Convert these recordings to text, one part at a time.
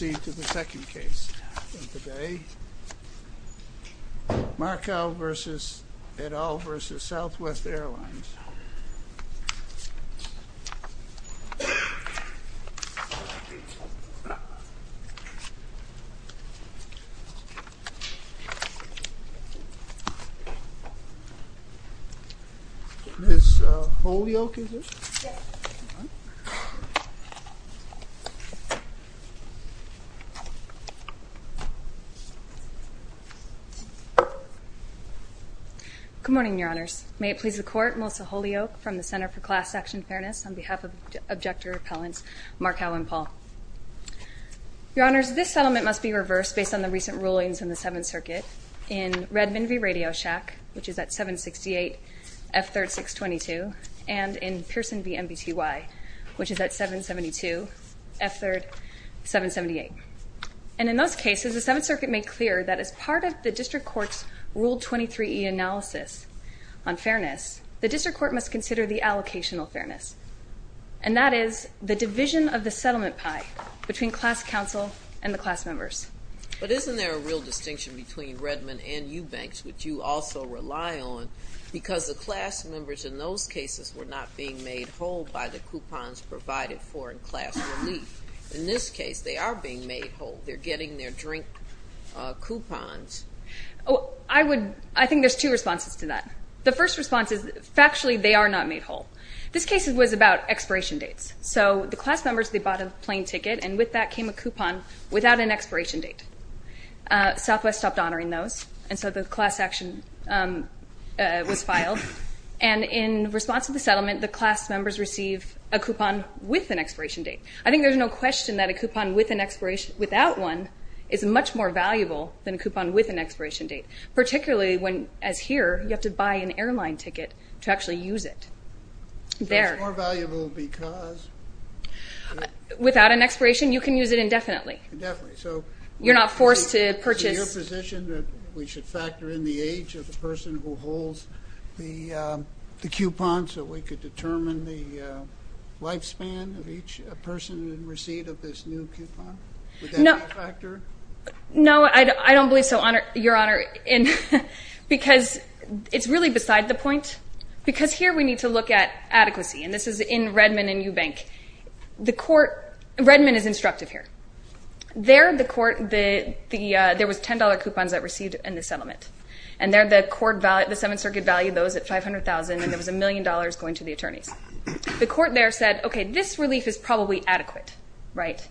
Let's proceed to the second case of the day. Markow v. et al. v. Southwest Airlines. Ms. Holyoke, is it? Good morning, Your Honors. May it please the Court, Melissa Holyoke from the Center for Class Action Fairness on behalf of Objector Appellants Markow and Paul. Your Honors, this settlement must be reversed based on the recent rulings in the Seventh Circuit in Redmond v. Radio Shack, which is at 768 F3rd 622, and in Pearson v. MBTY, which is at 772 F3rd 778. And in those cases, the Seventh Circuit made clear that as part of the District Court's Rule 23e analysis on fairness, the District Court must consider the allocational fairness, and that is the division of the settlement pie between class counsel and the class members. But isn't there a real distinction between Redmond and Eubanks, which you also rely on, because the class members in those cases were not being made whole by the coupons provided for in class relief. In this case, they are being made whole. They're getting their drink coupons. I think there's two responses to that. The first response is factually they are not made whole. This case was about expiration dates. So the class members, they bought a plane ticket, and with that came a coupon without an expiration date. Southwest stopped honoring those, and so the class action was filed. And in response to the settlement, the class members receive a coupon with an expiration date. I think there's no question that a coupon without one is much more valuable than a coupon with an expiration date, particularly when, as here, you have to buy an airline ticket to actually use it. So it's more valuable because? Without an expiration, you can use it indefinitely. Indefinitely. So you're not forced to purchase? Is it your position that we should factor in the age of the person who holds the coupon so we could determine the lifespan of each person in receipt of this new coupon? No. Would that be a factor? No, I don't believe so, Your Honor, because it's really beside the point, because here we need to look at adequacy. And this is in Redmond and Eubank. Redmond is instructive here. There, the court, there was $10 coupons that received in the settlement. And there, the court, the Seventh Circuit valued those at $500,000, and there was $1 million going to the attorneys. The court there said, okay, this relief is probably adequate, right?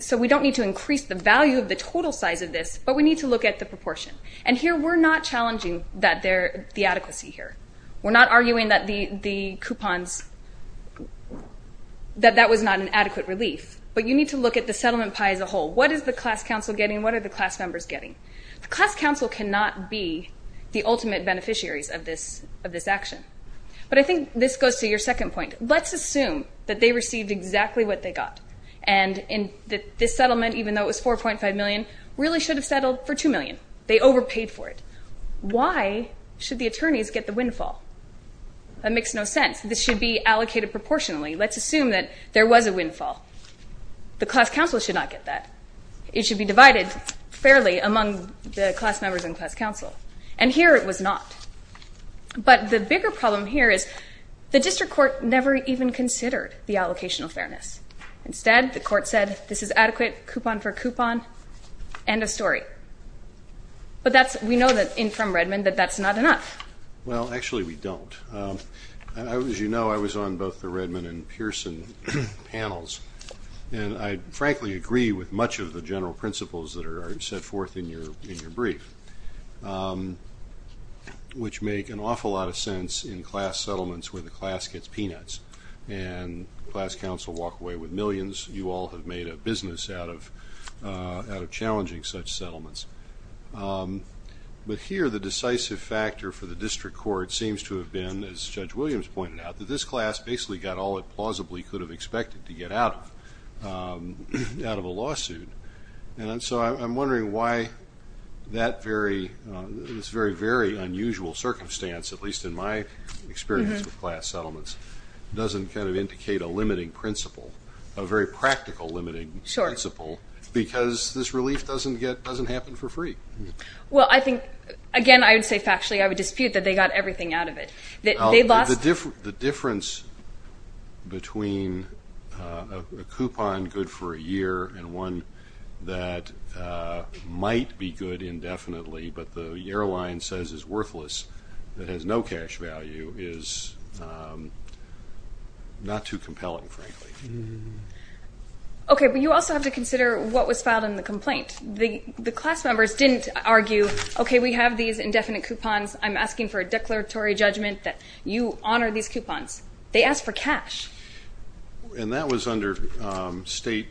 So we don't need to increase the value of the total size of this, but we need to look at the proportion. And here, we're not challenging the adequacy here. We're not arguing that the coupons, that that was not an adequate relief. But you need to look at the settlement pie as a whole. What is the class counsel getting? What are the class members getting? The class counsel cannot be the ultimate beneficiaries of this action. But I think this goes to your second point. Let's assume that they received exactly what they got, and that this settlement, even though it was $4.5 million, really should have settled for $2 million. They overpaid for it. Why should the attorneys get the windfall? That makes no sense. This should be allocated proportionally. Let's assume that there was a windfall. The class counsel should not get that. It should be divided fairly among the class members and class counsel. And here, it was not. But the bigger problem here is the district court never even considered the allocation of fairness. Instead, the court said, this is adequate, coupon for coupon, end of story. But we know from Redmond that that's not enough. Well, actually, we don't. As you know, I was on both the Redmond and Pearson panels. And I frankly agree with much of the general principles that are set forth in your brief, which make an awful lot of sense in class settlements where the class gets peanuts and class counsel walk away with millions. Of course, you all have made a business out of challenging such settlements. But here, the decisive factor for the district court seems to have been, as Judge Williams pointed out, that this class basically got all it plausibly could have expected to get out of a lawsuit. And so I'm wondering why this very, very unusual circumstance, at least in my experience with class settlements, doesn't kind of indicate a limiting principle, a very practical limiting principle, because this relief doesn't happen for free. Well, I think, again, I would say factually I would dispute that they got everything out of it. The difference between a coupon good for a year and one that might be good indefinitely but the yearline says is worthless, that has no cash value, is not too compelling, frankly. Okay, but you also have to consider what was filed in the complaint. The class members didn't argue, okay, we have these indefinite coupons. I'm asking for a declaratory judgment that you honor these coupons. They asked for cash. And that was under state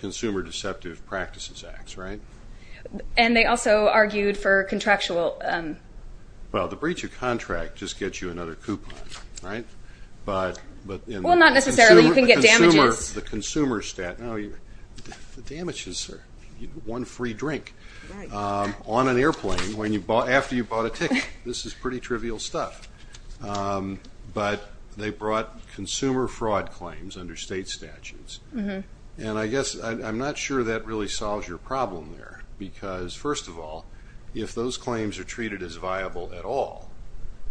consumer deceptive practices acts, right? And they also argued for contractual. Well, the breach of contract just gets you another coupon, right? Well, not necessarily. You can get damages. The consumer statute. The damages are one free drink on an airplane after you bought a ticket. This is pretty trivial stuff. But they brought consumer fraud claims under state statutes. And I guess I'm not sure that really solves your problem there because, first of all, if those claims are treated as viable at all,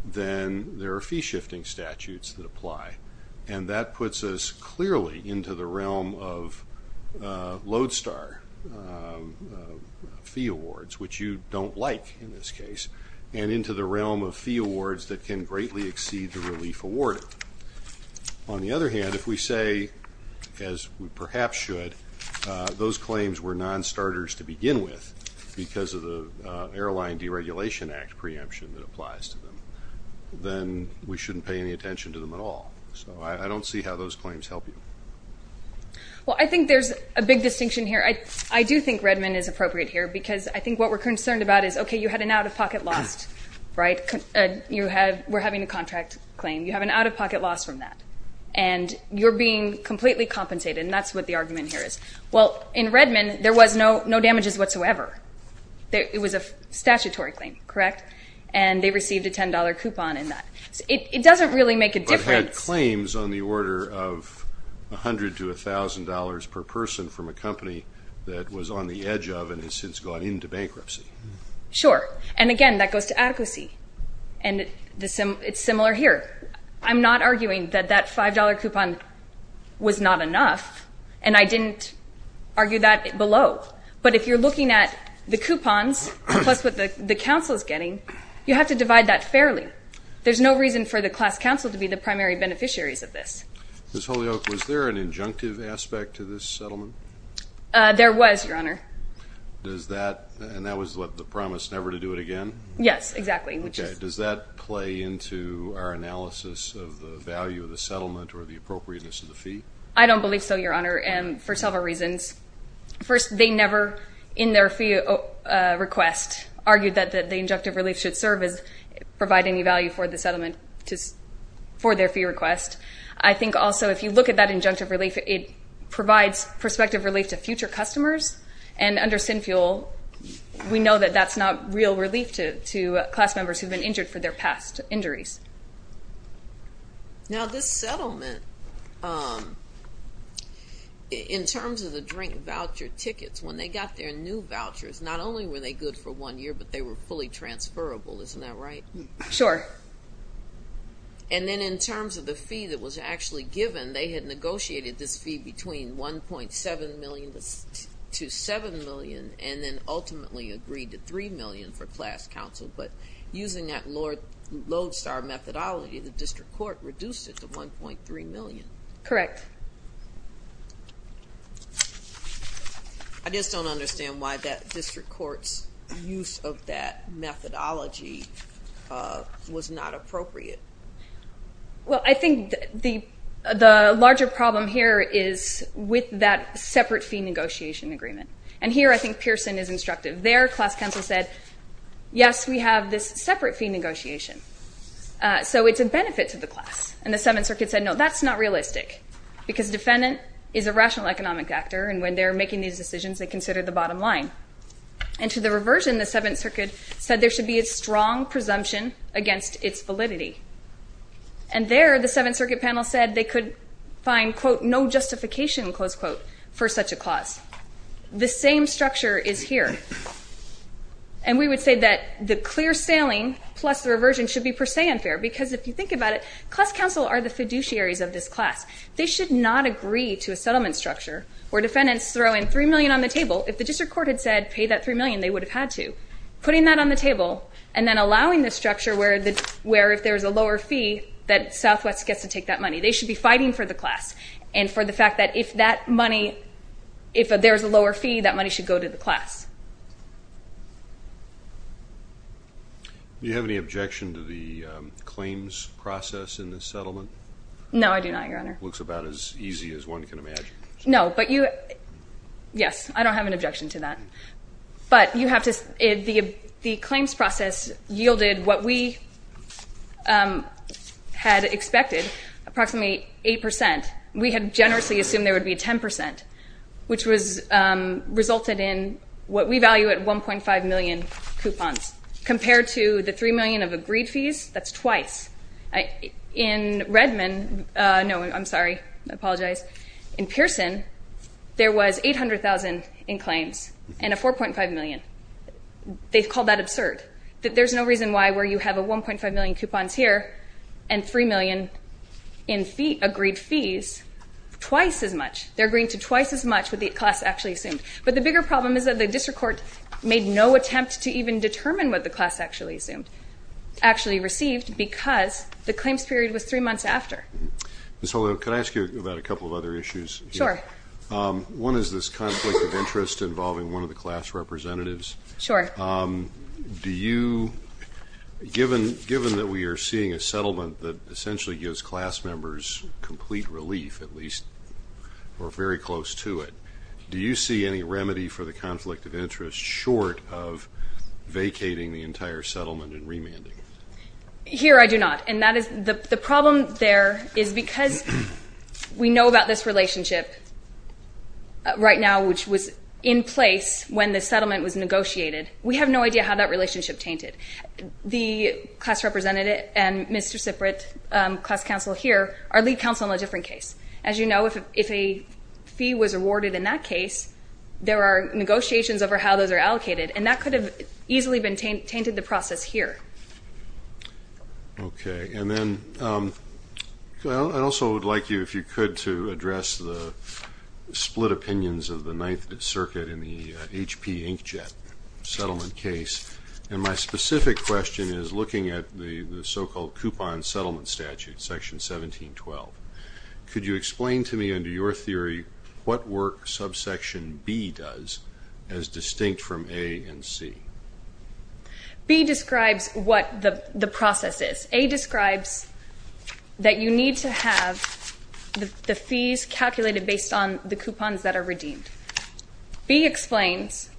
then there are fee shifting statutes that apply. And that puts us clearly into the realm of Lodestar fee awards, which you don't like in this case, and into the realm of fee awards that can greatly exceed the relief awarded. On the other hand, if we say, as we perhaps should, those claims were non-starters to begin with because of the Airline Deregulation Act preemption that applies to them, then we shouldn't pay any attention to them at all. So I don't see how those claims help you. Well, I think there's a big distinction here. I do think Redmond is appropriate here because I think what we're concerned about is, okay, you had an out-of-pocket loss, right? We're having a contract claim. You have an out-of-pocket loss from that. And you're being completely compensated, and that's what the argument here is. Well, in Redmond, there was no damages whatsoever. It was a statutory claim, correct? And they received a $10 coupon in that. It doesn't really make a difference. But had claims on the order of $100 to $1,000 per person from a company that was on the edge of and has since gone into bankruptcy. Sure. And, again, that goes to adequacy. And it's similar here. I'm not arguing that that $5 coupon was not enough, and I didn't argue that below. But if you're looking at the coupons plus what the counsel is getting, you have to divide that fairly. There's no reason for the class counsel to be the primary beneficiaries of this. Ms. Holyoak, was there an injunctive aspect to this settlement? There was, Your Honor. And that was the promise never to do it again? Yes, exactly. Okay. Does that play into our analysis of the value of the settlement or the appropriateness of the fee? I don't believe so, Your Honor, for several reasons. First, they never, in their fee request, argued that the injunctive relief should serve as providing the value for the settlement for their fee request. I think also if you look at that injunctive relief, it provides prospective relief to future customers. And under SinFuel, we know that that's not real relief to class members who've been injured for their past injuries. Now, this settlement, in terms of the drink voucher tickets, when they got their new vouchers, not only were they good for one year, but they were fully transferable. Isn't that right? Sure. And then in terms of the fee that was actually given, they had negotiated this fee between $1.7 million to $7 million, and then ultimately agreed to $3 million for class counsel. But using that Lodestar methodology, the district court reduced it to $1.3 million. Correct. I just don't understand why that district court's use of that methodology was not appropriate. Well, I think the larger problem here is with that separate fee negotiation agreement. And here I think Pearson is instructive. Their class counsel said, yes, we have this separate fee negotiation, so it's a benefit to the class. And the Seventh Circuit said, no, that's not realistic because defendant is a rational economic actor, and when they're making these decisions, they consider the bottom line. And to the reversion, the Seventh Circuit said there should be a strong presumption against its validity. And there, the Seventh Circuit panel said they could find, quote, no justification, close quote, for such a clause. The same structure is here. And we would say that the clear sailing plus the reversion should be per se unfair because if you think about it, class counsel are the fiduciaries of this class. They should not agree to a settlement structure where defendants throw in $3 million on the table. If the district court had said pay that $3 million, they would have had to. Putting that on the table and then allowing the structure where if there's a lower fee, that Southwest gets to take that money. They should be fighting for the class and for the fact that if that money, if there's a lower fee, that money should go to the class. Do you have any objection to the claims process in this settlement? No, I do not, Your Honor. It looks about as easy as one can imagine. No, but you, yes, I don't have an objection to that. But you have to, the claims process yielded what we had expected, approximately 8%. We had generously assumed there would be 10% which resulted in what we value at 1.5 million coupons compared to the $3 million of agreed fees. That's twice. In Redmond, no, I'm sorry, I apologize. In Pearson, there was $800,000 in claims and a $4.5 million. They've called that absurd. There's no reason why where you have a 1.5 million coupons here and $3 million in agreed fees, twice as much. They're agreeing to twice as much what the class actually assumed. But the bigger problem is that the district court made no attempt to even determine what the class actually assumed, actually received, because the claims period was three months after. Ms. Holloway, can I ask you about a couple of other issues? Sure. One is this conflict of interest involving one of the class representatives. Sure. Do you, given that we are seeing a settlement that essentially gives class members complete relief, at least, or very close to it, do you see any remedy for the conflict of interest short of vacating the entire settlement and remanding? Here I do not. And the problem there is because we know about this relationship right now, which was in place when the settlement was negotiated. We have no idea how that relationship tainted. The class representative and Mr. Siprit, class counsel here, are lead counsel in a different case. As you know, if a fee was awarded in that case, there are negotiations over how those are allocated, and that could have easily tainted the process here. Okay. And then I also would like you, if you could, to address the split opinions of the Ninth Circuit in the H.P. Inkjet settlement case. And my specific question is looking at the so-called Coupon Settlement Statute, Section 1712. Could you explain to me, under your theory, what work Subsection B does as distinct from A and C? B describes what the process is. A describes that you need to have the fees calculated based on the coupons that are redeemed. B explains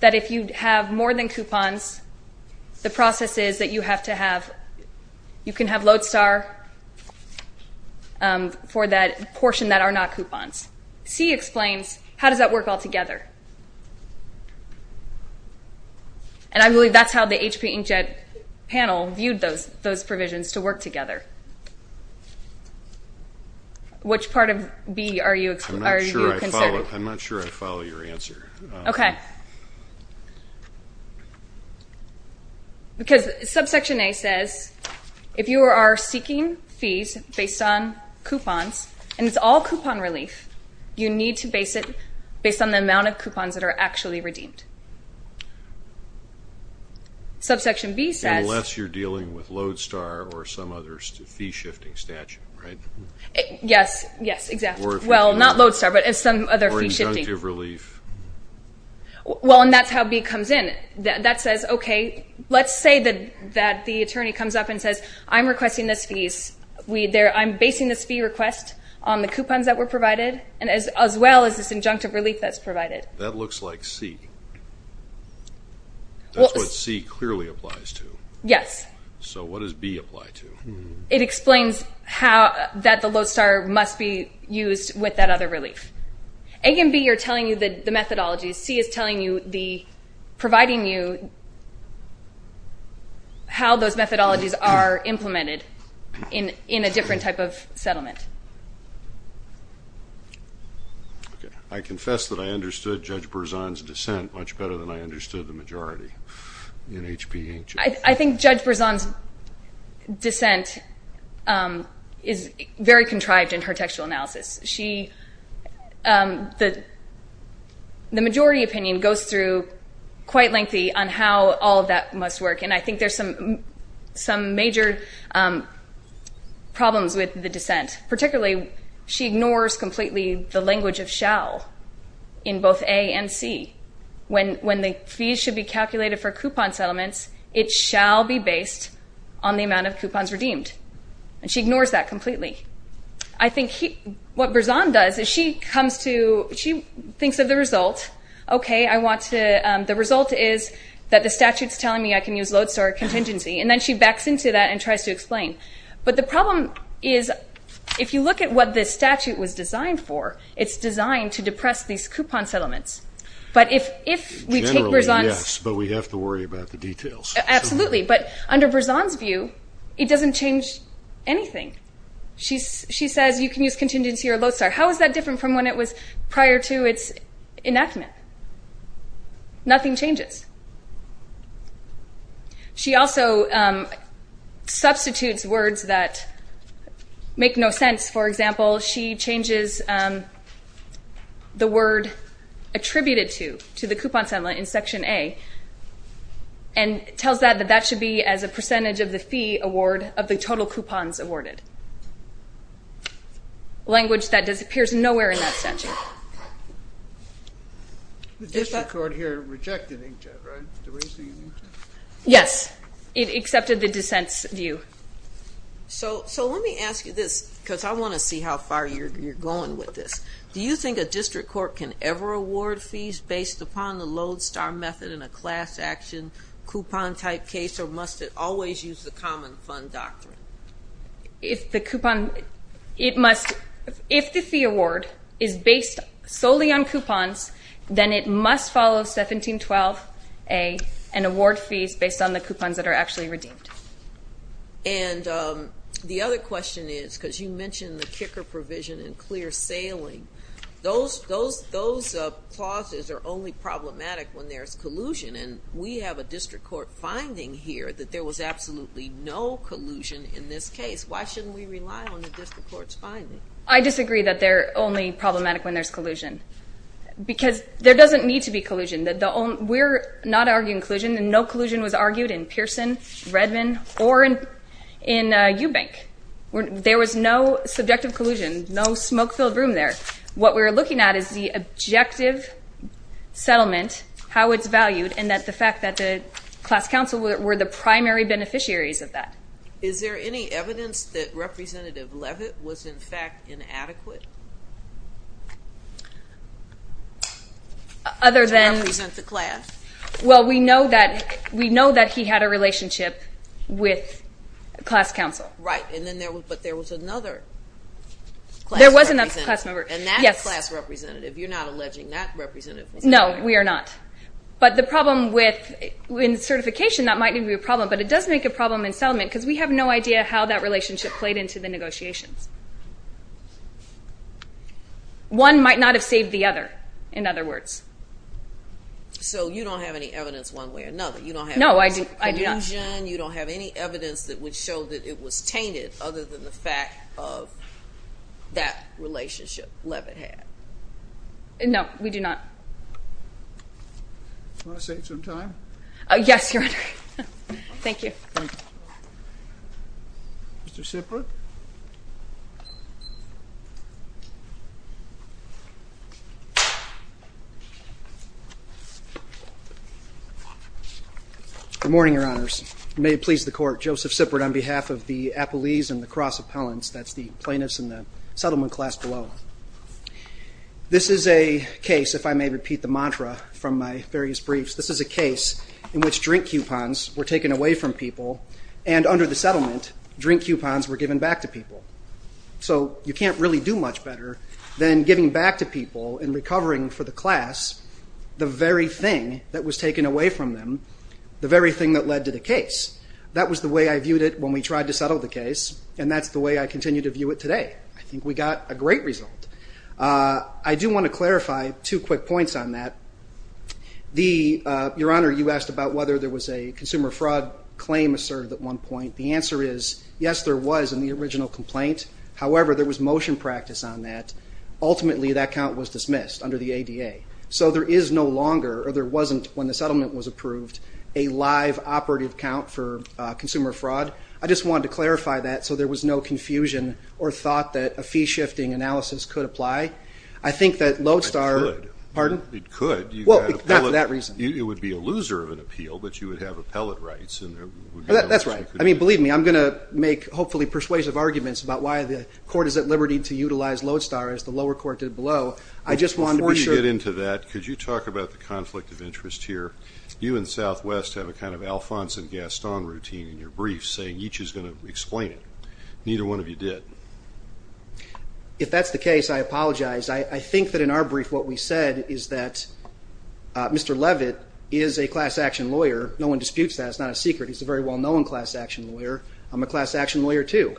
that if you have more than coupons, the process is that you have to have, you can have load star for that portion that are not coupons. C explains, how does that work all together? And I believe that's how the H.P. Inkjet panel viewed those provisions to work together. Which part of B are you considering? I'm not sure I follow your answer. Okay. Because Subsection A says if you are seeking fees based on coupons, and it's all coupon relief, you need to base it based on the amount of coupons that are actually redeemed. Subsection B says... Unless you're dealing with load star or some other fee-shifting statute, right? Yes, yes, exactly. Well, not load star, but some other fee-shifting. Or injunctive relief. Well, and that's how B comes in. That says, okay, let's say that the attorney comes up and says, I'm requesting this fee. I'm basing this fee request on the coupons that were provided, as well as this injunctive relief that's provided. That looks like C. That's what C clearly applies to. Yes. So what does B apply to? It explains that the load star must be used with that other relief. A and B are telling you the methodologies. C is providing you how those methodologies are implemented in a different type of settlement. I confess that I understood Judge Berzon's dissent much better than I understood the majority. I think Judge Berzon's dissent is very contrived in her textual analysis. The majority opinion goes through quite lengthy on how all of that must work, and I think there's some major problems with the dissent. Particularly, she ignores completely the language of shall in both A and C. When the fees should be calculated for coupon settlements, it shall be based on the amount of coupons redeemed. And she ignores that completely. I think what Berzon does is she thinks of the result. Okay, the result is that the statute's telling me I can use load star contingency, and then she backs into that and tries to explain. But the problem is if you look at what this statute was designed for, it's designed to depress these coupon settlements. Generally, yes, but we have to worry about the details. Absolutely. But under Berzon's view, it doesn't change anything. She says you can use contingency or load star. How is that different from when it was prior to its enactment? Nothing changes. She also substitutes words that make no sense. For example, she changes the word attributed to the coupon settlement in Section A and tells that that should be as a percentage of the fee award of the total coupons awarded, language that appears nowhere in that statute. The district court here rejected inkjet, right? Yes, it accepted the dissent's view. So let me ask you this because I want to see how far you're going with this. Do you think a district court can ever award fees based upon the load star method in a class action coupon type case, or must it always use the common fund doctrine? If the fee award is based solely on coupons, then it must follow 1712A and award fees based on the coupons that are actually redeemed. And the other question is, because you mentioned the kicker provision and clear sailing, those clauses are only problematic when there's collusion, and we have a district court finding here that there was absolutely no collusion in this case. Why shouldn't we rely on the district court's finding? I disagree that they're only problematic when there's collusion because there doesn't need to be collusion. We're not arguing collusion, and no collusion was argued in Pearson, Redmond, or in Eubank. There was no subjective collusion, no smoke-filled room there. What we're looking at is the objective settlement, how it's valued, and the fact that the class counsel were the primary beneficiaries of that. Is there any evidence that Representative Levitt was, in fact, inadequate? To represent the class? Well, we know that he had a relationship with class counsel. Right, but there was another class representative. There was another class member, yes. And that class representative, you're not alleging that representative was inadequate? No, we are not. But the problem with certification, that might be a problem, but it does make a problem in settlement because we have no idea how that relationship played into the negotiations. One might not have saved the other, in other words. So you don't have any evidence one way or another? No, I do not. No collusion? You don't have any evidence that would show that it was tainted other than the fact of that relationship Levitt had? No, we do not. Do you want to save some time? Yes, Your Honor. Thank you. Mr. Sippert? Good morning, Your Honors. May it please the Court, Joseph Sippert on behalf of the Appellees and the Cross Appellants, that's the plaintiffs in the settlement class below. This is a case, if I may repeat the mantra from my various briefs, this is a case in which drink coupons were taken away from people and under the settlement, drink coupons were given back to people. So you can't really do much better than giving back to people and recovering for the class the very thing that was taken away from them, the very thing that led to the case. That was the way I viewed it when we tried to settle the case, and that's the way I continue to view it today. I think we got a great result. I do want to clarify two quick points on that. Your Honor, you asked about whether there was a consumer fraud claim asserted at one point. The answer is, yes, there was in the original complaint. However, there was motion practice on that. Ultimately, that count was dismissed under the ADA. So there is no longer, or there wasn't when the settlement was approved, a live operative count for consumer fraud. I just wanted to clarify that so there was no confusion or thought that a fee-shifting analysis could apply. I think that Lodestar – It could. Well, not for that reason. It would be a loser of an appeal, but you would have appellate rights. That's right. I mean, believe me, I'm going to make hopefully persuasive arguments about why the court is at liberty to utilize Lodestar as the lower court did below. Before you get into that, could you talk about the conflict of interest here? You and Southwest have a kind of Alphonse and Gaston routine in your brief, saying each is going to explain it. Neither one of you did. If that's the case, I apologize. I think that in our brief what we said is that Mr. Levitt is a class-action lawyer. No one disputes that. It's not a secret. He's a very well-known class-action lawyer. I'm a class-action lawyer too.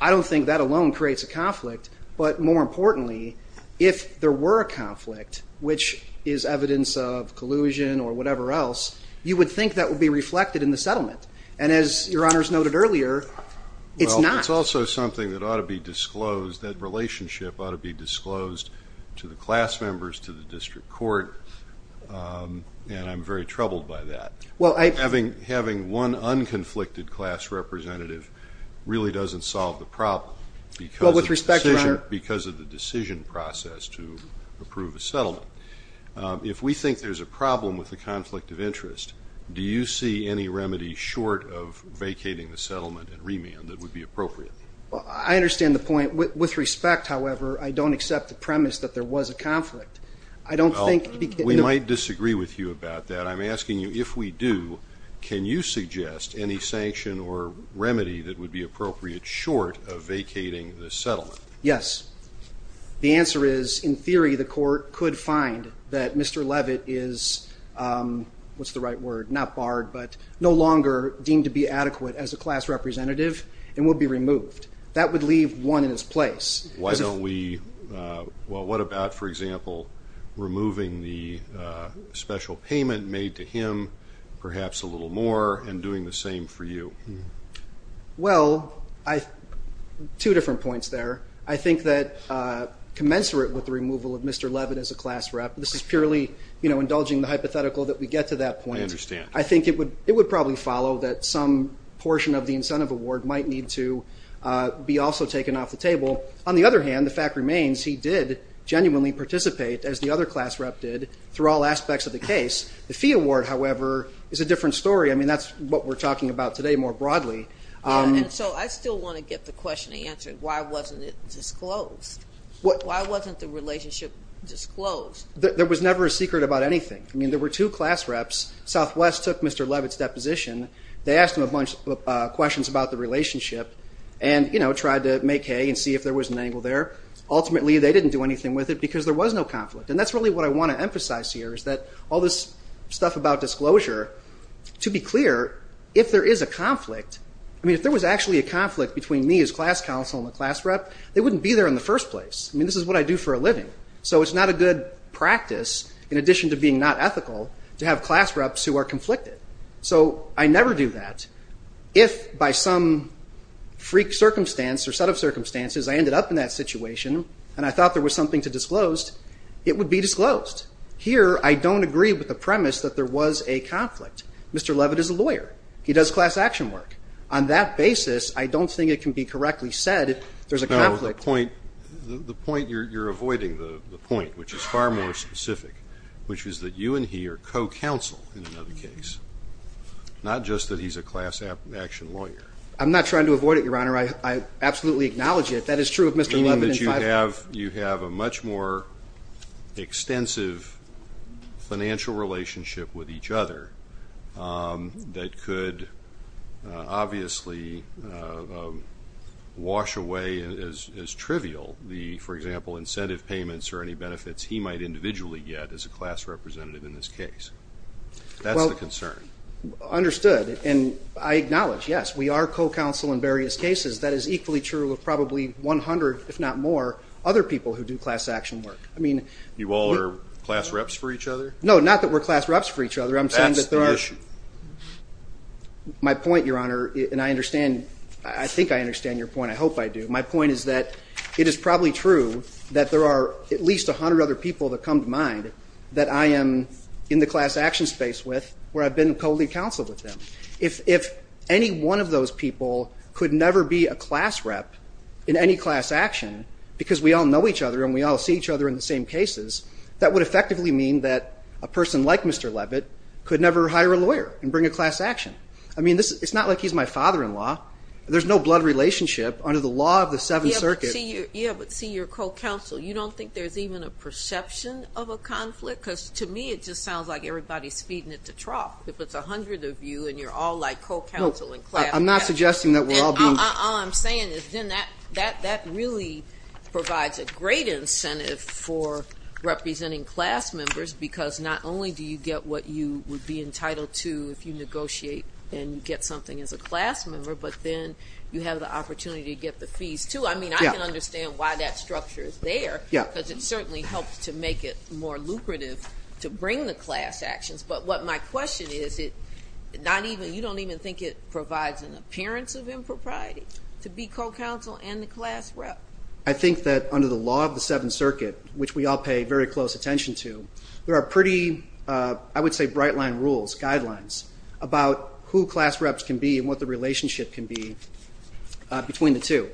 I don't think that alone creates a conflict. But more importantly, if there were a conflict, which is evidence of collusion or whatever else, you would think that would be reflected in the settlement. And as Your Honors noted earlier, it's not. Well, it's also something that ought to be disclosed, that relationship ought to be disclosed to the class members, to the district court, and I'm very troubled by that. Having one unconflicted class representative really doesn't solve the problem because of the decision process to approve a settlement. If we think there's a problem with the conflict of interest, do you see any remedy short of vacating the settlement and remand that would be appropriate? Well, I understand the point. With respect, however, I don't accept the premise that there was a conflict. I don't think we can ---- Well, we might disagree with you about that. I'm asking you if we do, can you suggest any sanction or remedy that would be appropriate short of vacating the settlement? Yes. The answer is, in theory, the court could find that Mr. Levitt is, what's the right word, not barred, but no longer deemed to be adequate as a class representative and would be removed. That would leave one in his place. Why don't we ---- Well, what about, for example, removing the special payment made to him, perhaps a little more, and doing the same for you? Well, two different points there. I think that commensurate with the removal of Mr. Levitt as a class rep, this is purely indulging the hypothetical that we get to that point. I understand. I think it would probably follow that some portion of the incentive award might need to be also taken off the table. On the other hand, the fact remains he did genuinely participate, as the other class rep did, through all aspects of the case. The fee award, however, is a different story. I mean, that's what we're talking about today more broadly. And so I still want to get the question answered, why wasn't it disclosed? Why wasn't the relationship disclosed? There was never a secret about anything. I mean, there were two class reps. Southwest took Mr. Levitt's deposition. They asked him a bunch of questions about the relationship and, you know, tried to make hay and see if there was an angle there. Ultimately, they didn't do anything with it because there was no conflict. And that's really what I want to emphasize here is that all this stuff about disclosure, to be clear, if there is a conflict, I mean, if there was actually a conflict between me as class counsel and the class rep, they wouldn't be there in the first place. I mean, this is what I do for a living. So it's not a good practice, in addition to being not ethical, to have class reps who are conflicted. So I never do that. If by some freak circumstance or set of circumstances I ended up in that situation and I thought there was something to disclose, it would be disclosed. Here, I don't agree with the premise that there was a conflict. Mr. Levitt is a lawyer. He does class action work. On that basis, I don't think it can be correctly said there's a conflict. The point you're avoiding, the point which is far more specific, which is that you and he are co-counsel in another case, not just that he's a class action lawyer. I'm not trying to avoid it, Your Honor. I absolutely acknowledge it. That is true of Mr. Levitt and Fife. Meaning that you have a much more extensive financial relationship with each other that could obviously wash away as trivial the, for example, incentive payments or any benefits he might individually get as a class representative in this case. That's the concern. Understood. And I acknowledge, yes, we are co-counsel in various cases. That is equally true of probably 100, if not more, other people who do class action work. You all are class reps for each other? No, not that we're class reps for each other. That's the issue. My point, Your Honor, and I understand, I think I understand your point. I hope I do. My point is that it is probably true that there are at least 100 other people that come to mind that I am in the class action space with where I've been co-lead counsel with them. If any one of those people could never be a class rep in any class action because we all know each other and we all see each other in the same cases, that would effectively mean that a person like Mr. Levitt could never hire a lawyer and bring a class action. I mean, it's not like he's my father-in-law. There's no blood relationship under the law of the Seventh Circuit. Yeah, but see, you're co-counsel. You don't think there's even a perception of a conflict? Because to me it just sounds like everybody's feeding it to trough. If it's 100 of you and you're all like co-counsel in class action. I'm not suggesting that we're all being co-counsel. All I'm saying is then that really provides a great incentive for representing class members because not only do you get what you would be entitled to if you negotiate and you get something as a class member, but then you have the opportunity to get the fees too. I mean, I can understand why that structure is there because it certainly helps to make it more lucrative to bring the class actions. But what my question is, you don't even think it provides an appearance of impropriety to be co-counsel and the class rep? I think that under the law of the Seventh Circuit, which we all pay very close attention to, there are pretty, I would say, bright-line rules, guidelines, about who class reps can be and what the relationship can be between the two.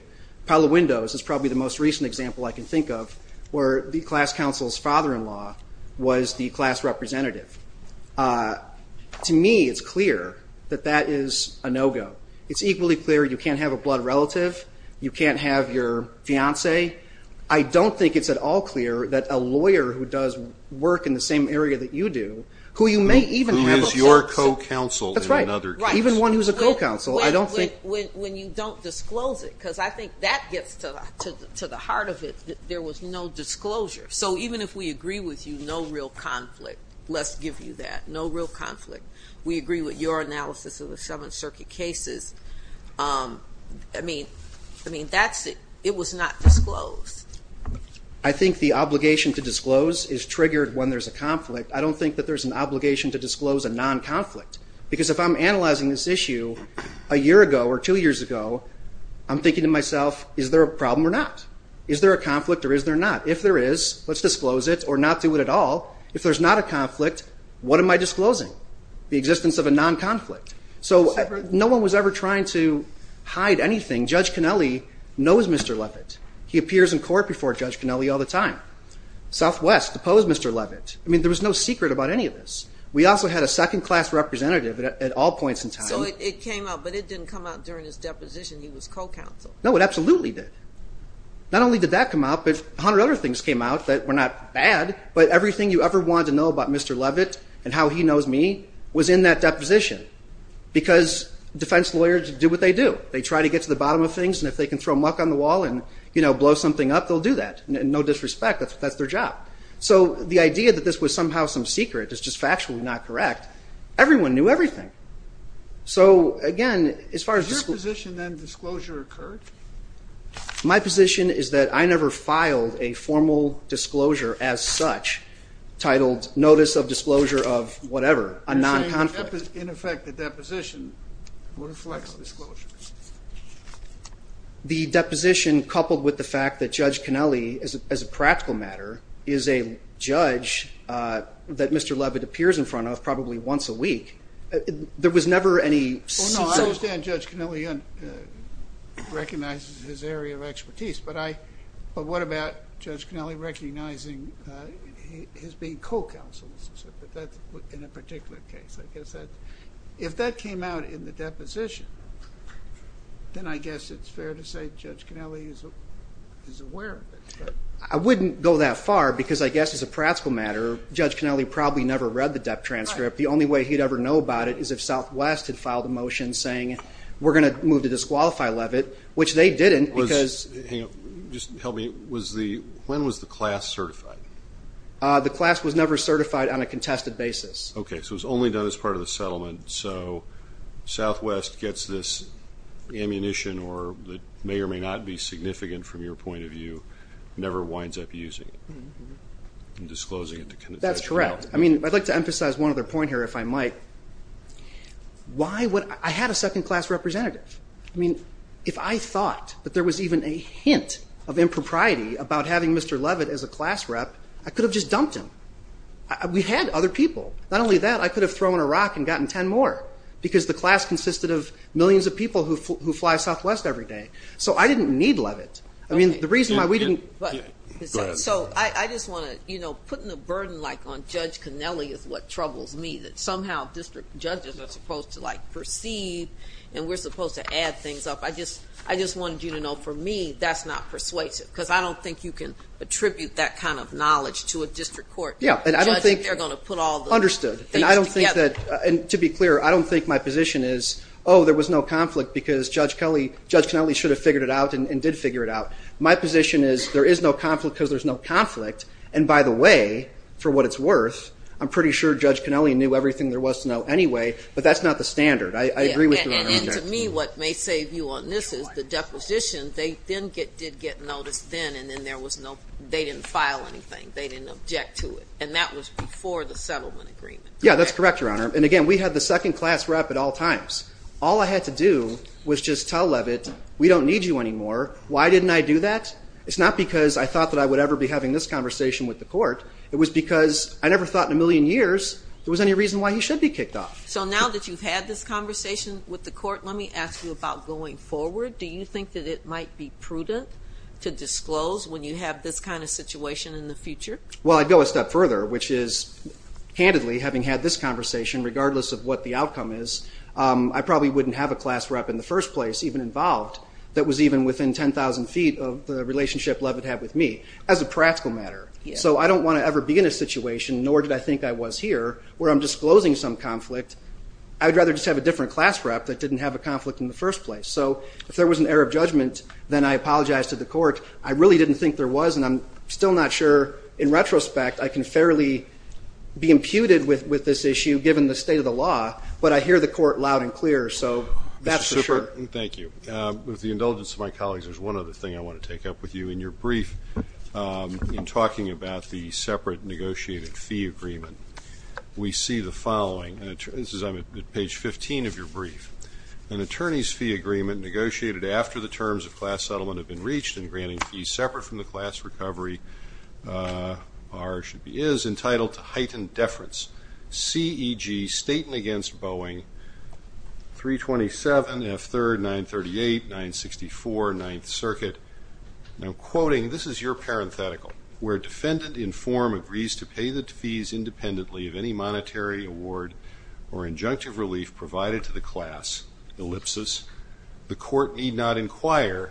Paolo Windows is probably the most recent example I can think of where the class counsel's father-in-law was the class representative. To me, it's clear that that is a no-go. It's equally clear you can't have a blood relative. You can't have your fiancé. I don't think it's at all clear that a lawyer who does work in the same area that you do, who you may even have a... Who is your co-counsel in another case. That's right. Even one who's a co-counsel, I don't think... So even if we agree with you, no real conflict. Let's give you that. No real conflict. We agree with your analysis of the Seventh Circuit cases. I mean, that's it. It was not disclosed. I think the obligation to disclose is triggered when there's a conflict. I don't think that there's an obligation to disclose a non-conflict. Because if I'm analyzing this issue a year ago or two years ago, I'm thinking to myself, is there a problem or not? Is there a conflict or is there not? If there is, let's disclose it or not do it at all. If there's not a conflict, what am I disclosing? The existence of a non-conflict. So no one was ever trying to hide anything. Judge Connelly knows Mr. Levitt. He appears in court before Judge Connelly all the time. Southwest deposed Mr. Levitt. I mean, there was no secret about any of this. We also had a second-class representative at all points in time. So it came out, but it didn't come out during his deposition. He was co-counsel. No, it absolutely did. Not only did that come out, but 100 other things came out that were not bad, but everything you ever wanted to know about Mr. Levitt and how he knows me was in that deposition. Because defense lawyers do what they do. They try to get to the bottom of things, and if they can throw muck on the wall and blow something up, they'll do that. No disrespect, that's their job. So the idea that this was somehow some secret is just factually not correct. Everyone knew everything. So, again, as far as disclosure. Is your position that disclosure occurred? My position is that I never filed a formal disclosure as such, titled Notice of Disclosure of whatever, a non-conflict. You're saying, in effect, the deposition reflects the disclosure. The deposition, coupled with the fact that Judge Connelly, as a practical matter, is a judge that Mr. Levitt appears in front of probably once a week, there was never any secret. Oh, no, I understand Judge Connelly recognizes his area of expertise, but what about Judge Connelly recognizing his being co-counsel? That's in a particular case. If that came out in the deposition, then I guess it's fair to say Judge Connelly is aware of it. I wouldn't go that far because I guess, as a practical matter, Judge Connelly probably never read the DEP transcript. The only way he'd ever know about it is if Southwest had filed a motion saying we're going to move to disqualify Levitt, which they didn't. Hang on, just help me. When was the class certified? The class was never certified on a contested basis. Okay, so it was only done as part of the settlement. So Southwest gets this ammunition, or it may or may not be significant from your point of view, never winds up using it and disclosing it to Connecticut. That's correct. I'd like to emphasize one other point here, if I might. I had a second-class representative. If I thought that there was even a hint of impropriety about having Mr. Levitt as a class rep, I could have just dumped him. We had other people. Not only that, I could have thrown a rock and gotten ten more because the class consisted of millions of people who fly Southwest every day. So I didn't need Levitt. I mean, the reason why we didn't go ahead. So I just want to, you know, putting the burden like on Judge Connelly is what troubles me, that somehow district judges are supposed to like proceed and we're supposed to add things up. I just wanted you to know, for me, that's not persuasive, because I don't think you can attribute that kind of knowledge to a district court. Yeah, and I don't think, understood. And I don't think that, to be clear, I don't think my position is, oh, there was no conflict because Judge Connelly should have figured it out and did figure it out. My position is there is no conflict because there's no conflict, and by the way, for what it's worth, I'm pretty sure Judge Connelly knew everything there was to know anyway, but that's not the standard. I agree with you on that. And to me, what may save you on this is the deposition, they did get notice then and then there was no, they didn't file anything. They didn't object to it. And that was before the settlement agreement. Yeah, that's correct, Your Honor. And again, we had the second class rep at all times. All I had to do was just tell Levitt, we don't need you anymore. Why didn't I do that? It's not because I thought that I would ever be having this conversation with the court. It was because I never thought in a million years there was any reason why he should be kicked off. So now that you've had this conversation with the court, let me ask you about going forward. Do you think that it might be prudent to disclose when you have this kind of situation in the future? Well, I'd go a step further, which is, handedly, having had this conversation, regardless of what the outcome is, I probably wouldn't have a class rep in the first place even involved that was even within 10,000 feet of the relationship Levitt had with me as a practical matter. So I don't want to ever be in a situation, nor did I think I was here, where I'm disclosing some conflict. I would rather just have a different class rep that didn't have a conflict in the first place. So if there was an error of judgment, then I apologize to the court. I really didn't think there was, and I'm still not sure in retrospect I can fairly be imputed with this issue, given the state of the law. But I hear the court loud and clear, so that's for sure. Mr. Super, thank you. With the indulgence of my colleagues, there's one other thing I want to take up with you. In your brief, in talking about the separate negotiated fee agreement, we see the following. This is on page 15 of your brief. An attorney's fee agreement negotiated after the terms of class settlement have been reached in granting fees separate from the class recovery is entitled to heightened deference. C.E.G. Staten against Boeing, 327, F. 3rd, 938, 964, 9th Circuit. Now, quoting, this is your parenthetical. Where defendant in form agrees to pay the fees independently of any monetary award or injunctive relief provided to the class, ellipsis, the court need not inquire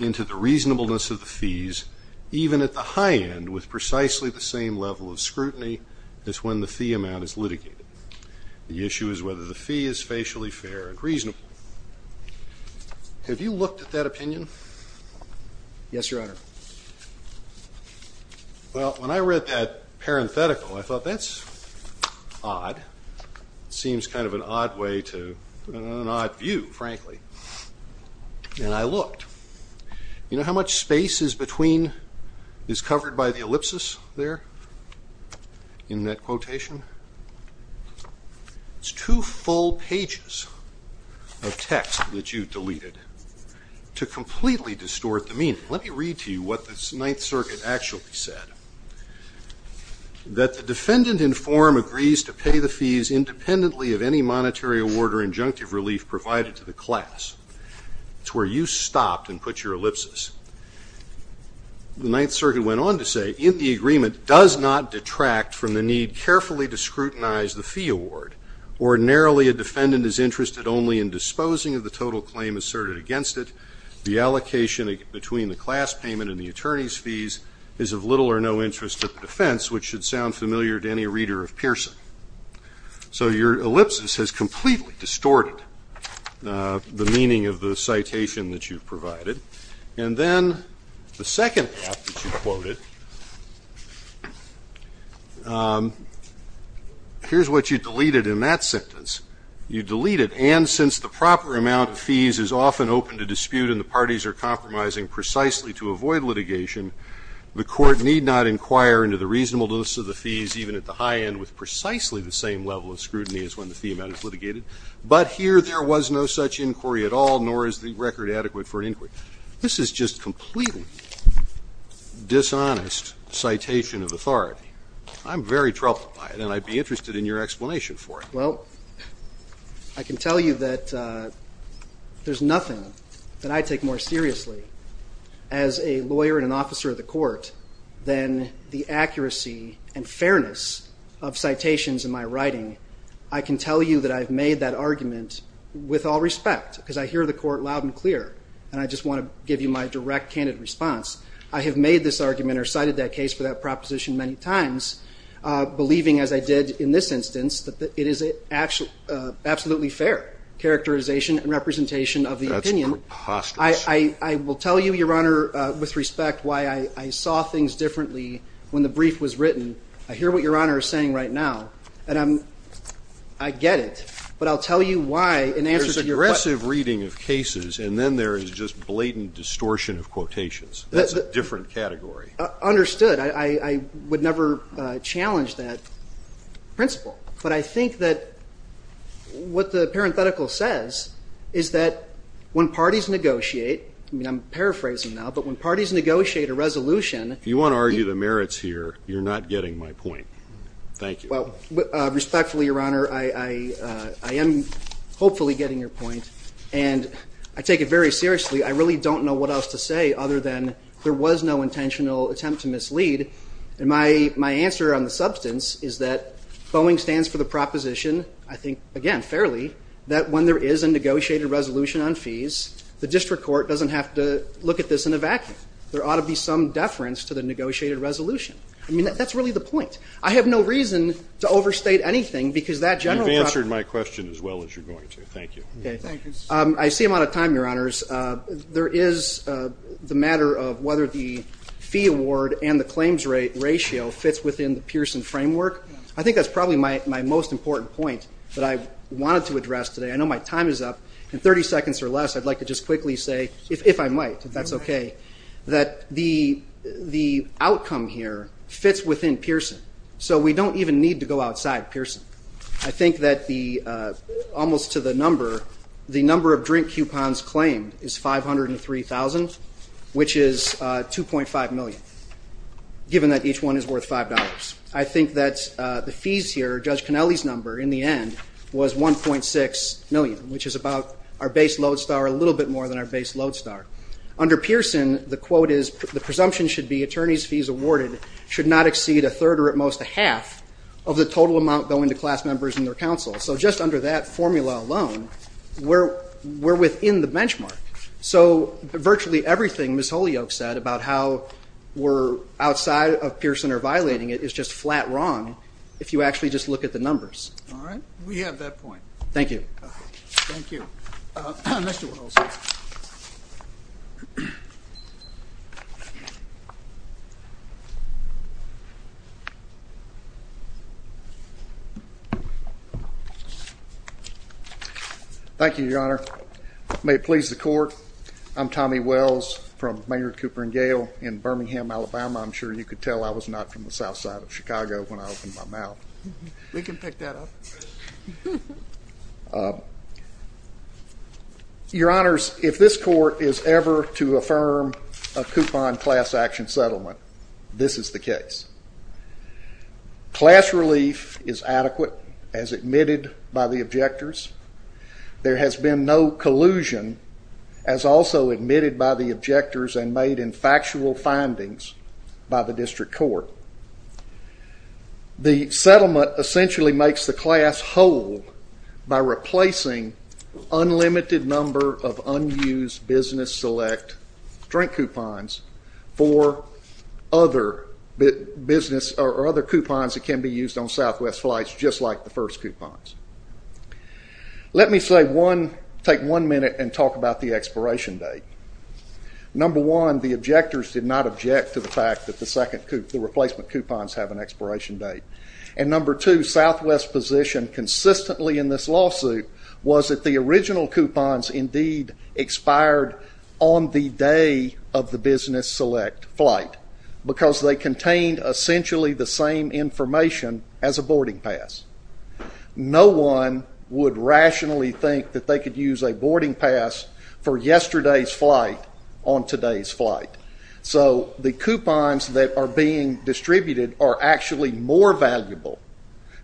into the reasonableness of the fees, even at the high end with precisely the same level of scrutiny as when the fee amount is litigated. The issue is whether the fee is facially fair and reasonable. Have you looked at that opinion? Yes, Your Honor. Well, when I read that parenthetical, I thought that's odd. It seems kind of an odd way to put it, an odd view, frankly. And I looked. You know how much space is between, is covered by the ellipsis there in that quotation? It's two full pages of text that you deleted to completely distort the meaning. Let me read to you what the 9th Circuit actually said. That the defendant in form agrees to pay the fees independently of any monetary award or injunctive relief provided to the class. It's where you stopped and put your ellipsis. The 9th Circuit went on to say, if the agreement does not detract from the need carefully to scrutinize the fee award, ordinarily a defendant is interested only in disposing of the total claim asserted against it. The allocation between the class payment and the attorney's fees is of little or no interest to the defense, which should sound familiar to any reader of Pearson. So your ellipsis has completely distorted the meaning of the citation that you've provided. And then the second half that you quoted, here's what you deleted in that sentence. You deleted, and since the proper amount of fees is often open to dispute and the parties are compromising precisely to avoid litigation, the court need not inquire into the reasonableness of the fees even at the high end with precisely the same level of scrutiny as when the fee amount is litigated. But here there was no such inquiry at all, nor is the record adequate for an inquiry. This is just completely dishonest citation of authority. I'm very troubled by it, and I'd be interested in your explanation for it. Well, I can tell you that there's nothing that I take more seriously as a lawyer and an officer of the court than the accuracy and fairness of citations in my writing. I can tell you that I've made that argument with all respect, because I hear the court loud and clear, and I just want to give you my direct, candid response. I have made this argument or cited that case for that proposition many times, believing, as I did in this instance, that it is absolutely fair characterization and representation of the opinion. That's preposterous. I will tell you, Your Honor, with respect, why I saw things differently when the brief was written. I hear what Your Honor is saying right now, and I get it. But I'll tell you why in answer to your question. There's aggressive reading of cases, and then there is just blatant distortion of quotations. That's a different category. Understood. I would never challenge that principle. But I think that what the parenthetical says is that when parties negotiate, and I'm paraphrasing now, but when parties negotiate a resolution. If you want to argue the merits here, you're not getting my point. Thank you. Well, respectfully, Your Honor, I am hopefully getting your point. And I take it very seriously. I really don't know what else to say other than there was no intentional attempt to mislead. And my answer on the substance is that Boeing stands for the proposition, I think, again, fairly, that when there is a negotiated resolution on fees, the district court doesn't have to look at this in a vacuum. There ought to be some deference to the negotiated resolution. I mean, that's really the point. I have no reason to overstate anything because that general. You've answered my question as well as you're going to. Thank you. I see I'm out of time, Your Honors. There is the matter of whether the fee award and the claims rate ratio fits within the Pearson framework. I think that's probably my most important point that I wanted to address today. I know my time is up. In 30 seconds or less, I'd like to just quickly say, if I might, if that's okay, that the outcome here fits within Pearson. So we don't even need to go outside Pearson. I think that almost to the number, the number of drink coupons claimed is 503,000, which is $2.5 million, given that each one is worth $5. I think that the fees here, Judge Conelli's number in the end was $1.6 million, which is about our base load star, a little bit more than our base load star. Under Pearson, the quote is, the presumption should be attorneys' fees awarded should not exceed a third or at most a half of the total amount going to class members and their counsel. So just under that formula alone, we're within the benchmark. So virtually everything Ms. Holyoak said about how we're outside of Pearson or violating it is just flat wrong if you actually just look at the numbers. All right. We have that point. Thank you. Thank you. Mr. Wells. Thank you, Your Honor. May it please the court, I'm Tommy Wells from Maynard Cooper & Gale in Birmingham, Alabama. I'm sure you could tell I was not from the south side of Chicago when I opened my mouth. We can pick that up. Your Honors, if this court is ever to affirm a coupon class action settlement, this is the case. Class relief is adequate as admitted by the objectors. There has been no collusion as also admitted by the objectors and made in factual findings by the district court. The settlement essentially makes the class whole by replacing unlimited number of unused business select drink coupons for other business or other coupons that can be used on southwest flights just like the first coupons. Let me take one minute and talk about the expiration date. Number one, the objectors did not object to the fact that the replacement coupons have an expiration date. And number two, southwest position consistently in this lawsuit was that the original coupons indeed expired on the day of the business select flight because they contained essentially the same information as a boarding pass. No one would rationally think that they could use a boarding pass for yesterday's flight on today's flight. So the coupons that are being distributed are actually more valuable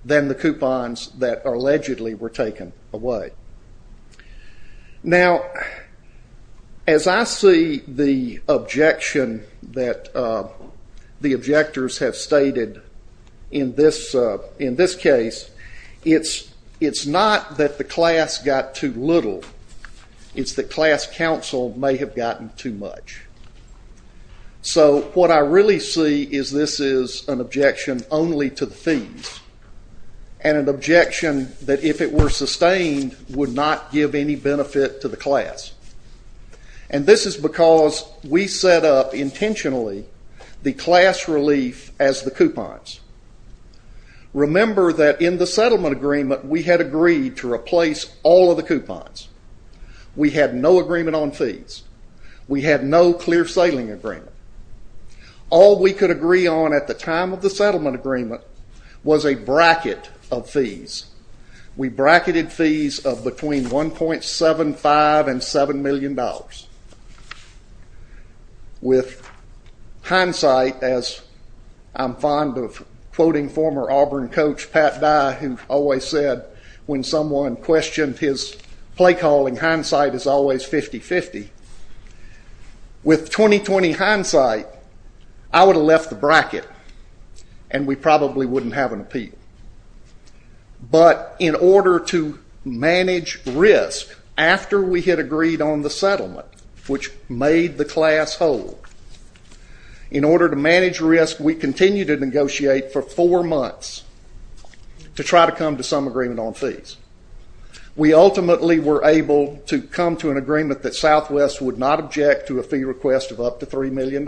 than the coupons that allegedly were taken away. Now, as I see the objection that the objectors have stated in this case, it's not that the class got too little. It's that class counsel may have gotten too much. So what I really see is this is an objection only to the themes and an objection that if it were sustained would not give any benefit to the class. And this is because we set up intentionally the class relief as the coupons. Remember that in the settlement agreement we had agreed to replace all of the coupons. We had no agreement on fees. We had no clear sailing agreement. All we could agree on at the time of the settlement agreement was a bracket of fees. We bracketed fees of between $1.75 and $7 million. With hindsight, as I'm fond of quoting former Auburn coach Pat Dye who always said when someone questioned his play calling, hindsight is always 50-50. With 20-20 hindsight, I would have left the bracket and we probably wouldn't have an appeal. But in order to manage risk, after we had agreed on the settlement, which made the class whole, in order to manage risk, we continued to negotiate for four months to try to come to some agreement on fees. We ultimately were able to come to an agreement that Southwest would not object to a fee request of up to $3 million.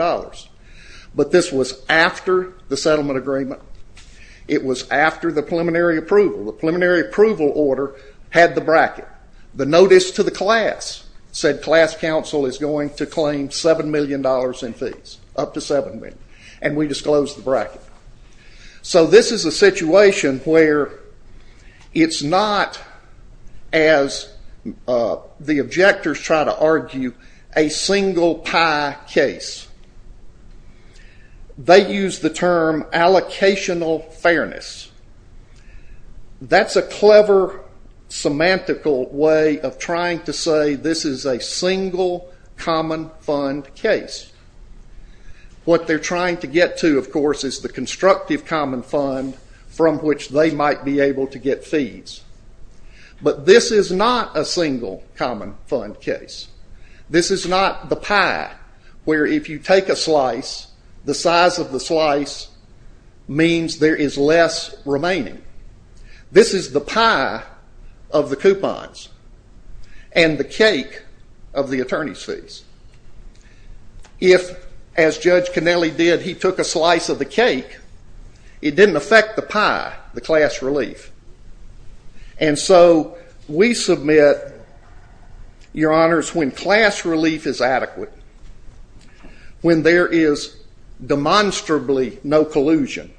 But this was after the settlement agreement. It was after the preliminary approval. The preliminary approval order had the bracket. The notice to the class said class counsel is going to claim $7 million in fees, up to $7 million, and we disclosed the bracket. So this is a situation where it's not, as the objectors try to argue, a single pie case. They use the term allocational fairness. That's a clever semantical way of trying to say this is a single common fund case. What they're trying to get to, of course, is the constructive common fund from which they might be able to get fees. But this is not a single common fund case. This is not the pie where if you take a slice, the size of the slice means there is less remaining. This is the pie of the coupons and the cake of the attorney's fees. If, as Judge Connelly did, he took a slice of the cake, it didn't affect the pie, the class relief. And so we submit, Your Honors, when class relief is adequate, when there is demonstrably no collusion,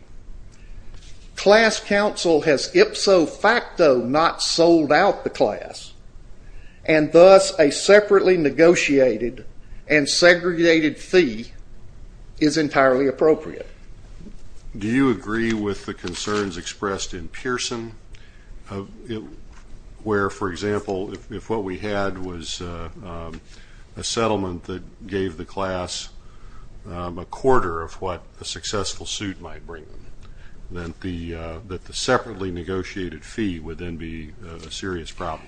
class counsel has ipso facto not sold out the class, and thus a separately negotiated and segregated fee is entirely appropriate. Do you agree with the concerns expressed in Pearson where, for example, if what we had was a settlement that gave the class a quarter of what a successful suit might bring, that the separately negotiated fee would then be a serious problem?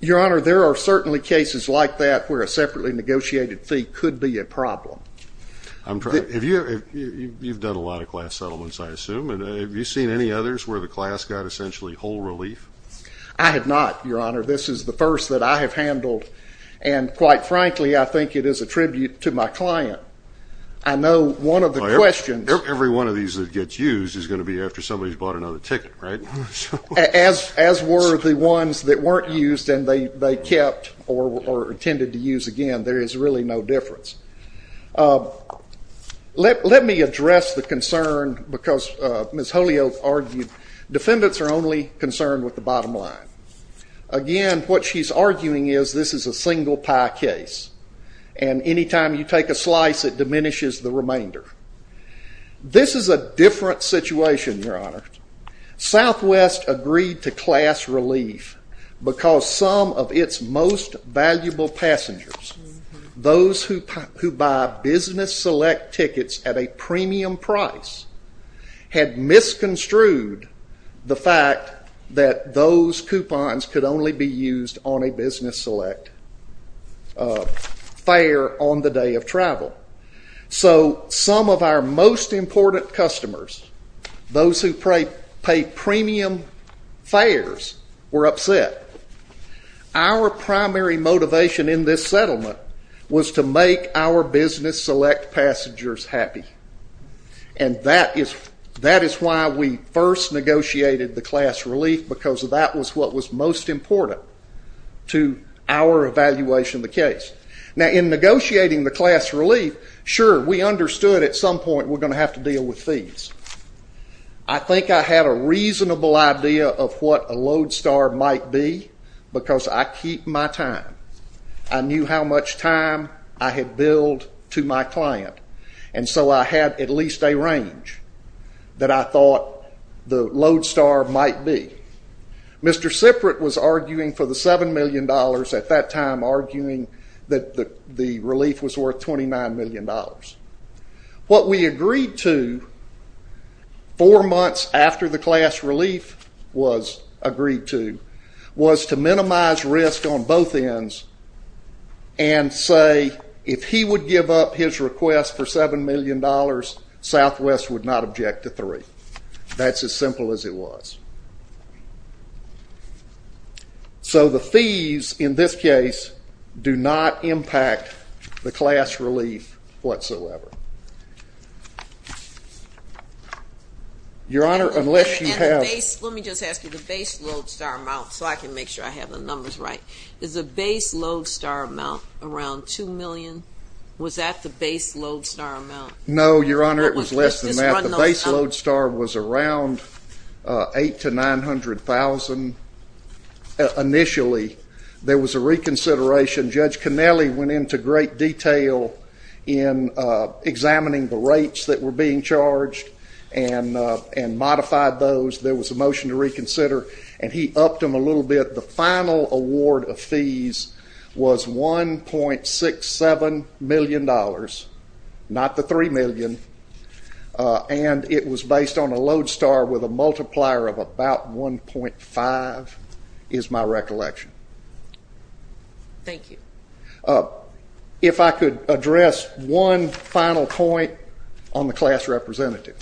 Your Honor, there are certainly cases like that where a separately negotiated fee could be a problem. You've done a lot of class settlements, I assume. Have you seen any others where the class got essentially whole relief? I have not, Your Honor. This is the first that I have handled, and quite frankly I think it is a tribute to my client. I know one of the questions— Every one of these that gets used is going to be after somebody's bought another ticket, right? As were the ones that weren't used and they kept or intended to use again. There is really no difference. Let me address the concern because Ms. Holyoak argued defendants are only concerned with the bottom line. Again, what she's arguing is this is a single pie case, and any time you take a slice it diminishes the remainder. This is a different situation, Your Honor. Southwest agreed to class relief because some of its most valuable passengers, those who buy business select tickets at a premium price, had misconstrued the fact that those coupons could only be used on a business select fare on the day of travel. So some of our most important customers, those who pay premium fares, were upset. Our primary motivation in this settlement was to make our business select passengers happy, and that is why we first negotiated the class relief because that was what was most important to our evaluation of the case. Now, in negotiating the class relief, sure, we understood at some point we're going to have to deal with fees. I think I had a reasonable idea of what a load star might be because I keep my time. I knew how much time I had billed to my client, and so I had at least a range that I thought the load star might be. Mr. Siprit was arguing for the $7 million at that time, arguing that the relief was worth $29 million. What we agreed to four months after the class relief was agreed to was to minimize risk on both ends and say if he would give up his request for $7 million, Southwest would not object to three. That's as simple as it was. So the fees in this case do not impact the class relief whatsoever. Your Honor, unless you have... Let me just ask you the base load star amount so I can make sure I have the numbers right. Is the base load star amount around $2 million? Was that the base load star amount? No, Your Honor, it was less than that. The base load star was around $800,000 to $900,000 initially. There was a reconsideration. Judge Cannelli went into great detail in examining the rates that were being charged and modified those. There was a motion to reconsider, and he upped them a little bit. The final award of fees was $1.67 million, not the $3 million, and it was based on a load star with a multiplier of about 1.5 is my recollection. Thank you. If I could address one final point on the class representative.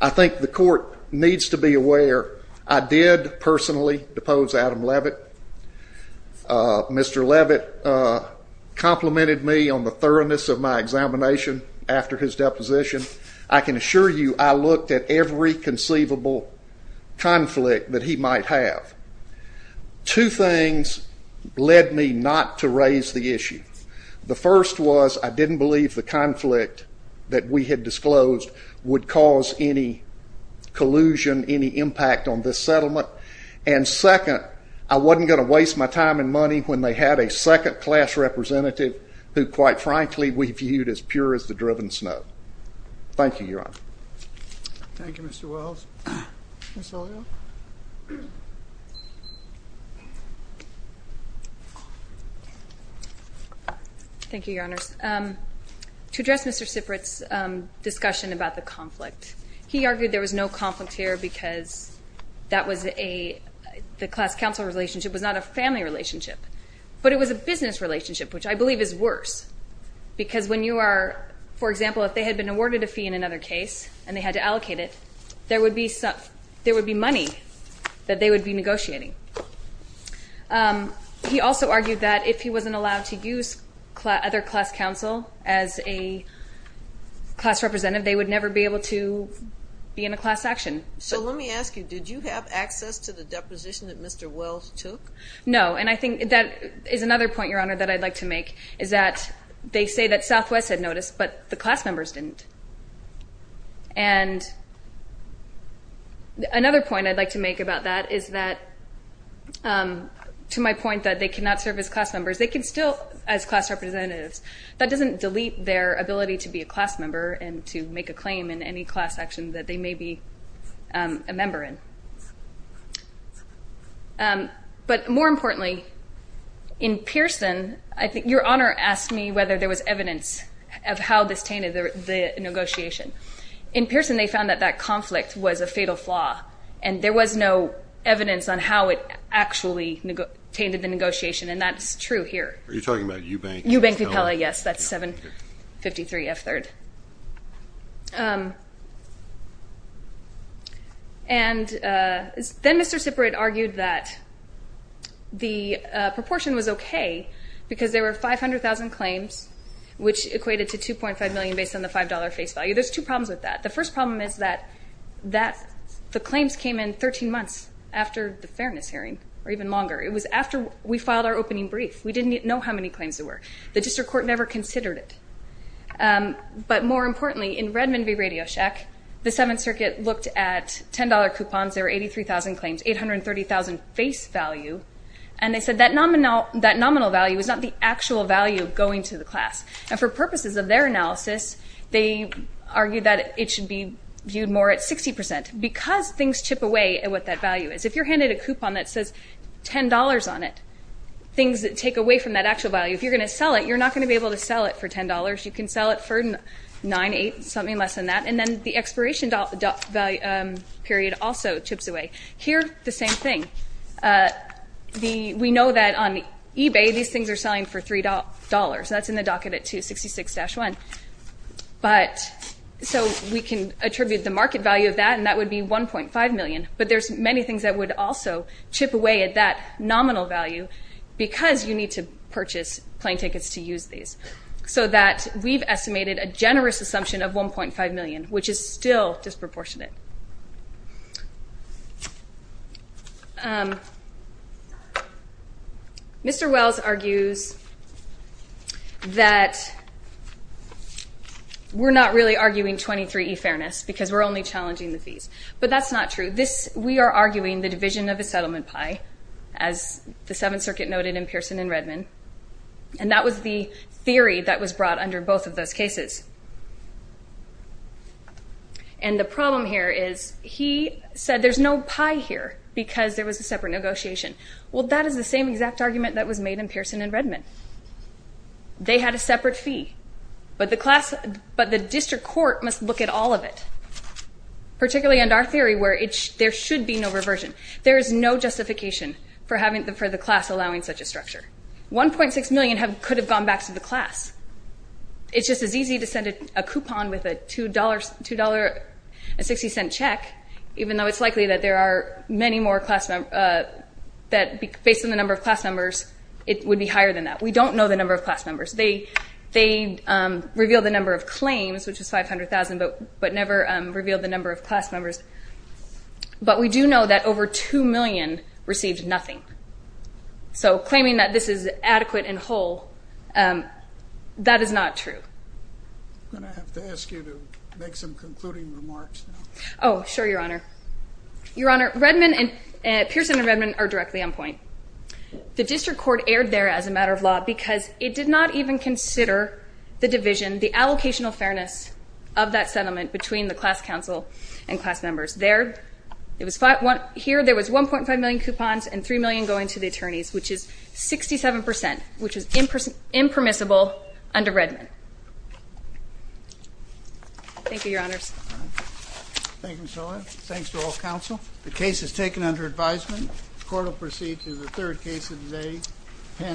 I think the court needs to be aware I did personally depose Adam Levitt. Mr. Levitt complimented me on the thoroughness of my examination after his deposition. I can assure you I looked at every conceivable conflict that he might have. Two things led me not to raise the issue. The first was I didn't believe the conflict that we had disclosed would cause any collusion, any impact on this settlement, and second, I wasn't going to waste my time and money when they had a second class representative who, quite frankly, we viewed as pure as the driven snow. Thank you, Your Honor. Thank you, Mr. Wells. Ms. Olio. Thank you, Your Honors. To address Mr. Sifrit's discussion about the conflict, he argued there was no conflict here because that was a the class counsel relationship was not a family relationship, but it was a business relationship, which I believe is worse because when you are, for example, if they had been awarded a fee in another case and they had to allocate it, there would be money that they would be negotiating. He also argued that if he wasn't allowed to use other class counsel as a class representative, they would never be able to be in a class action. So let me ask you, did you have access to the deposition that Mr. Wells took? No, and I think that is another point, Your Honor, that I'd like to make is that they say that Southwest had notice, but the class members didn't. And another point I'd like to make about that is that to my point that they cannot serve as class members, they can still as class representatives. That doesn't delete their ability to be a class member and to make a claim in any class action that they may be a member in. But more importantly, in Pearson, I think Your Honor asked me whether there was evidence of how this tainted the negotiation. In Pearson, they found that that conflict was a fatal flaw and there was no evidence on how it actually tainted the negotiation, and that's true here. Are you talking about Eubank? Eubank v. Pella, yes, that's 753 F3rd. And then Mr. Siprit argued that the proportion was okay because there were 500,000 claims, which equated to $2.5 million based on the $5 face value. There's two problems with that. The first problem is that the claims came in 13 months after the fairness hearing, or even longer. It was after we filed our opening brief. We didn't know how many claims there were. The district court never considered it. But more importantly, in Redmond v. Radio Shack, the Seventh Circuit looked at $10 coupons. There were 83,000 claims, 830,000 face value, and they said that nominal value was not the actual value going to the class. And for purposes of their analysis, they argued that it should be viewed more at 60% because things chip away at what that value is. If you're handed a coupon that says $10 on it, things take away from that actual value. If you're going to sell it, you're not going to be able to sell it for $10. You can sell it for $9, $8, something less than that. And then the expiration period also chips away. Here, the same thing. We know that on eBay, these things are selling for $3. That's in the docket at 266-1. So we can attribute the market value of that, and that would be $1.5 million. But there's many things that would also chip away at that nominal value because you need to purchase plane tickets to use these, so that we've estimated a generous assumption of $1.5 million, which is still disproportionate. Mr. Wells argues that we're not really arguing 23e fairness because we're only challenging the fees. But that's not true. We are arguing the division of a settlement pie, as the Seventh Circuit noted in Pearson and Redman, and that was the theory that was brought under both of those cases. And the problem here is he said there's no pie here because there was a separate negotiation. Well, that is the same exact argument that was made in Pearson and Redman. They had a separate fee. But the district court must look at all of it, particularly under our theory where there should be no reversion. There is no justification for the class allowing such a structure. $1.6 million could have gone back to the class. It's just as easy to send a coupon with a $2.60 check, even though it's likely that based on the number of class members, it would be higher than that. We don't know the number of class members. They revealed the number of claims, which was 500,000, but never revealed the number of class members. But we do know that over 2 million received nothing. So claiming that this is adequate and whole, that is not true. I'm going to have to ask you to make some concluding remarks now. Oh, sure, Your Honor. Your Honor, Pearson and Redman are directly on point. The district court erred there as a matter of law because it did not even consider the division, the allocational fairness of that settlement between the class counsel and class members. Here there was $1.5 million coupons and $3 million going to the attorneys, which is 67%, which is impermissible under Redman. Thank you, Your Honors. Thank you, Michelle. Thanks to all counsel. The case is taken under advisement. The court will proceed to the third case of the day.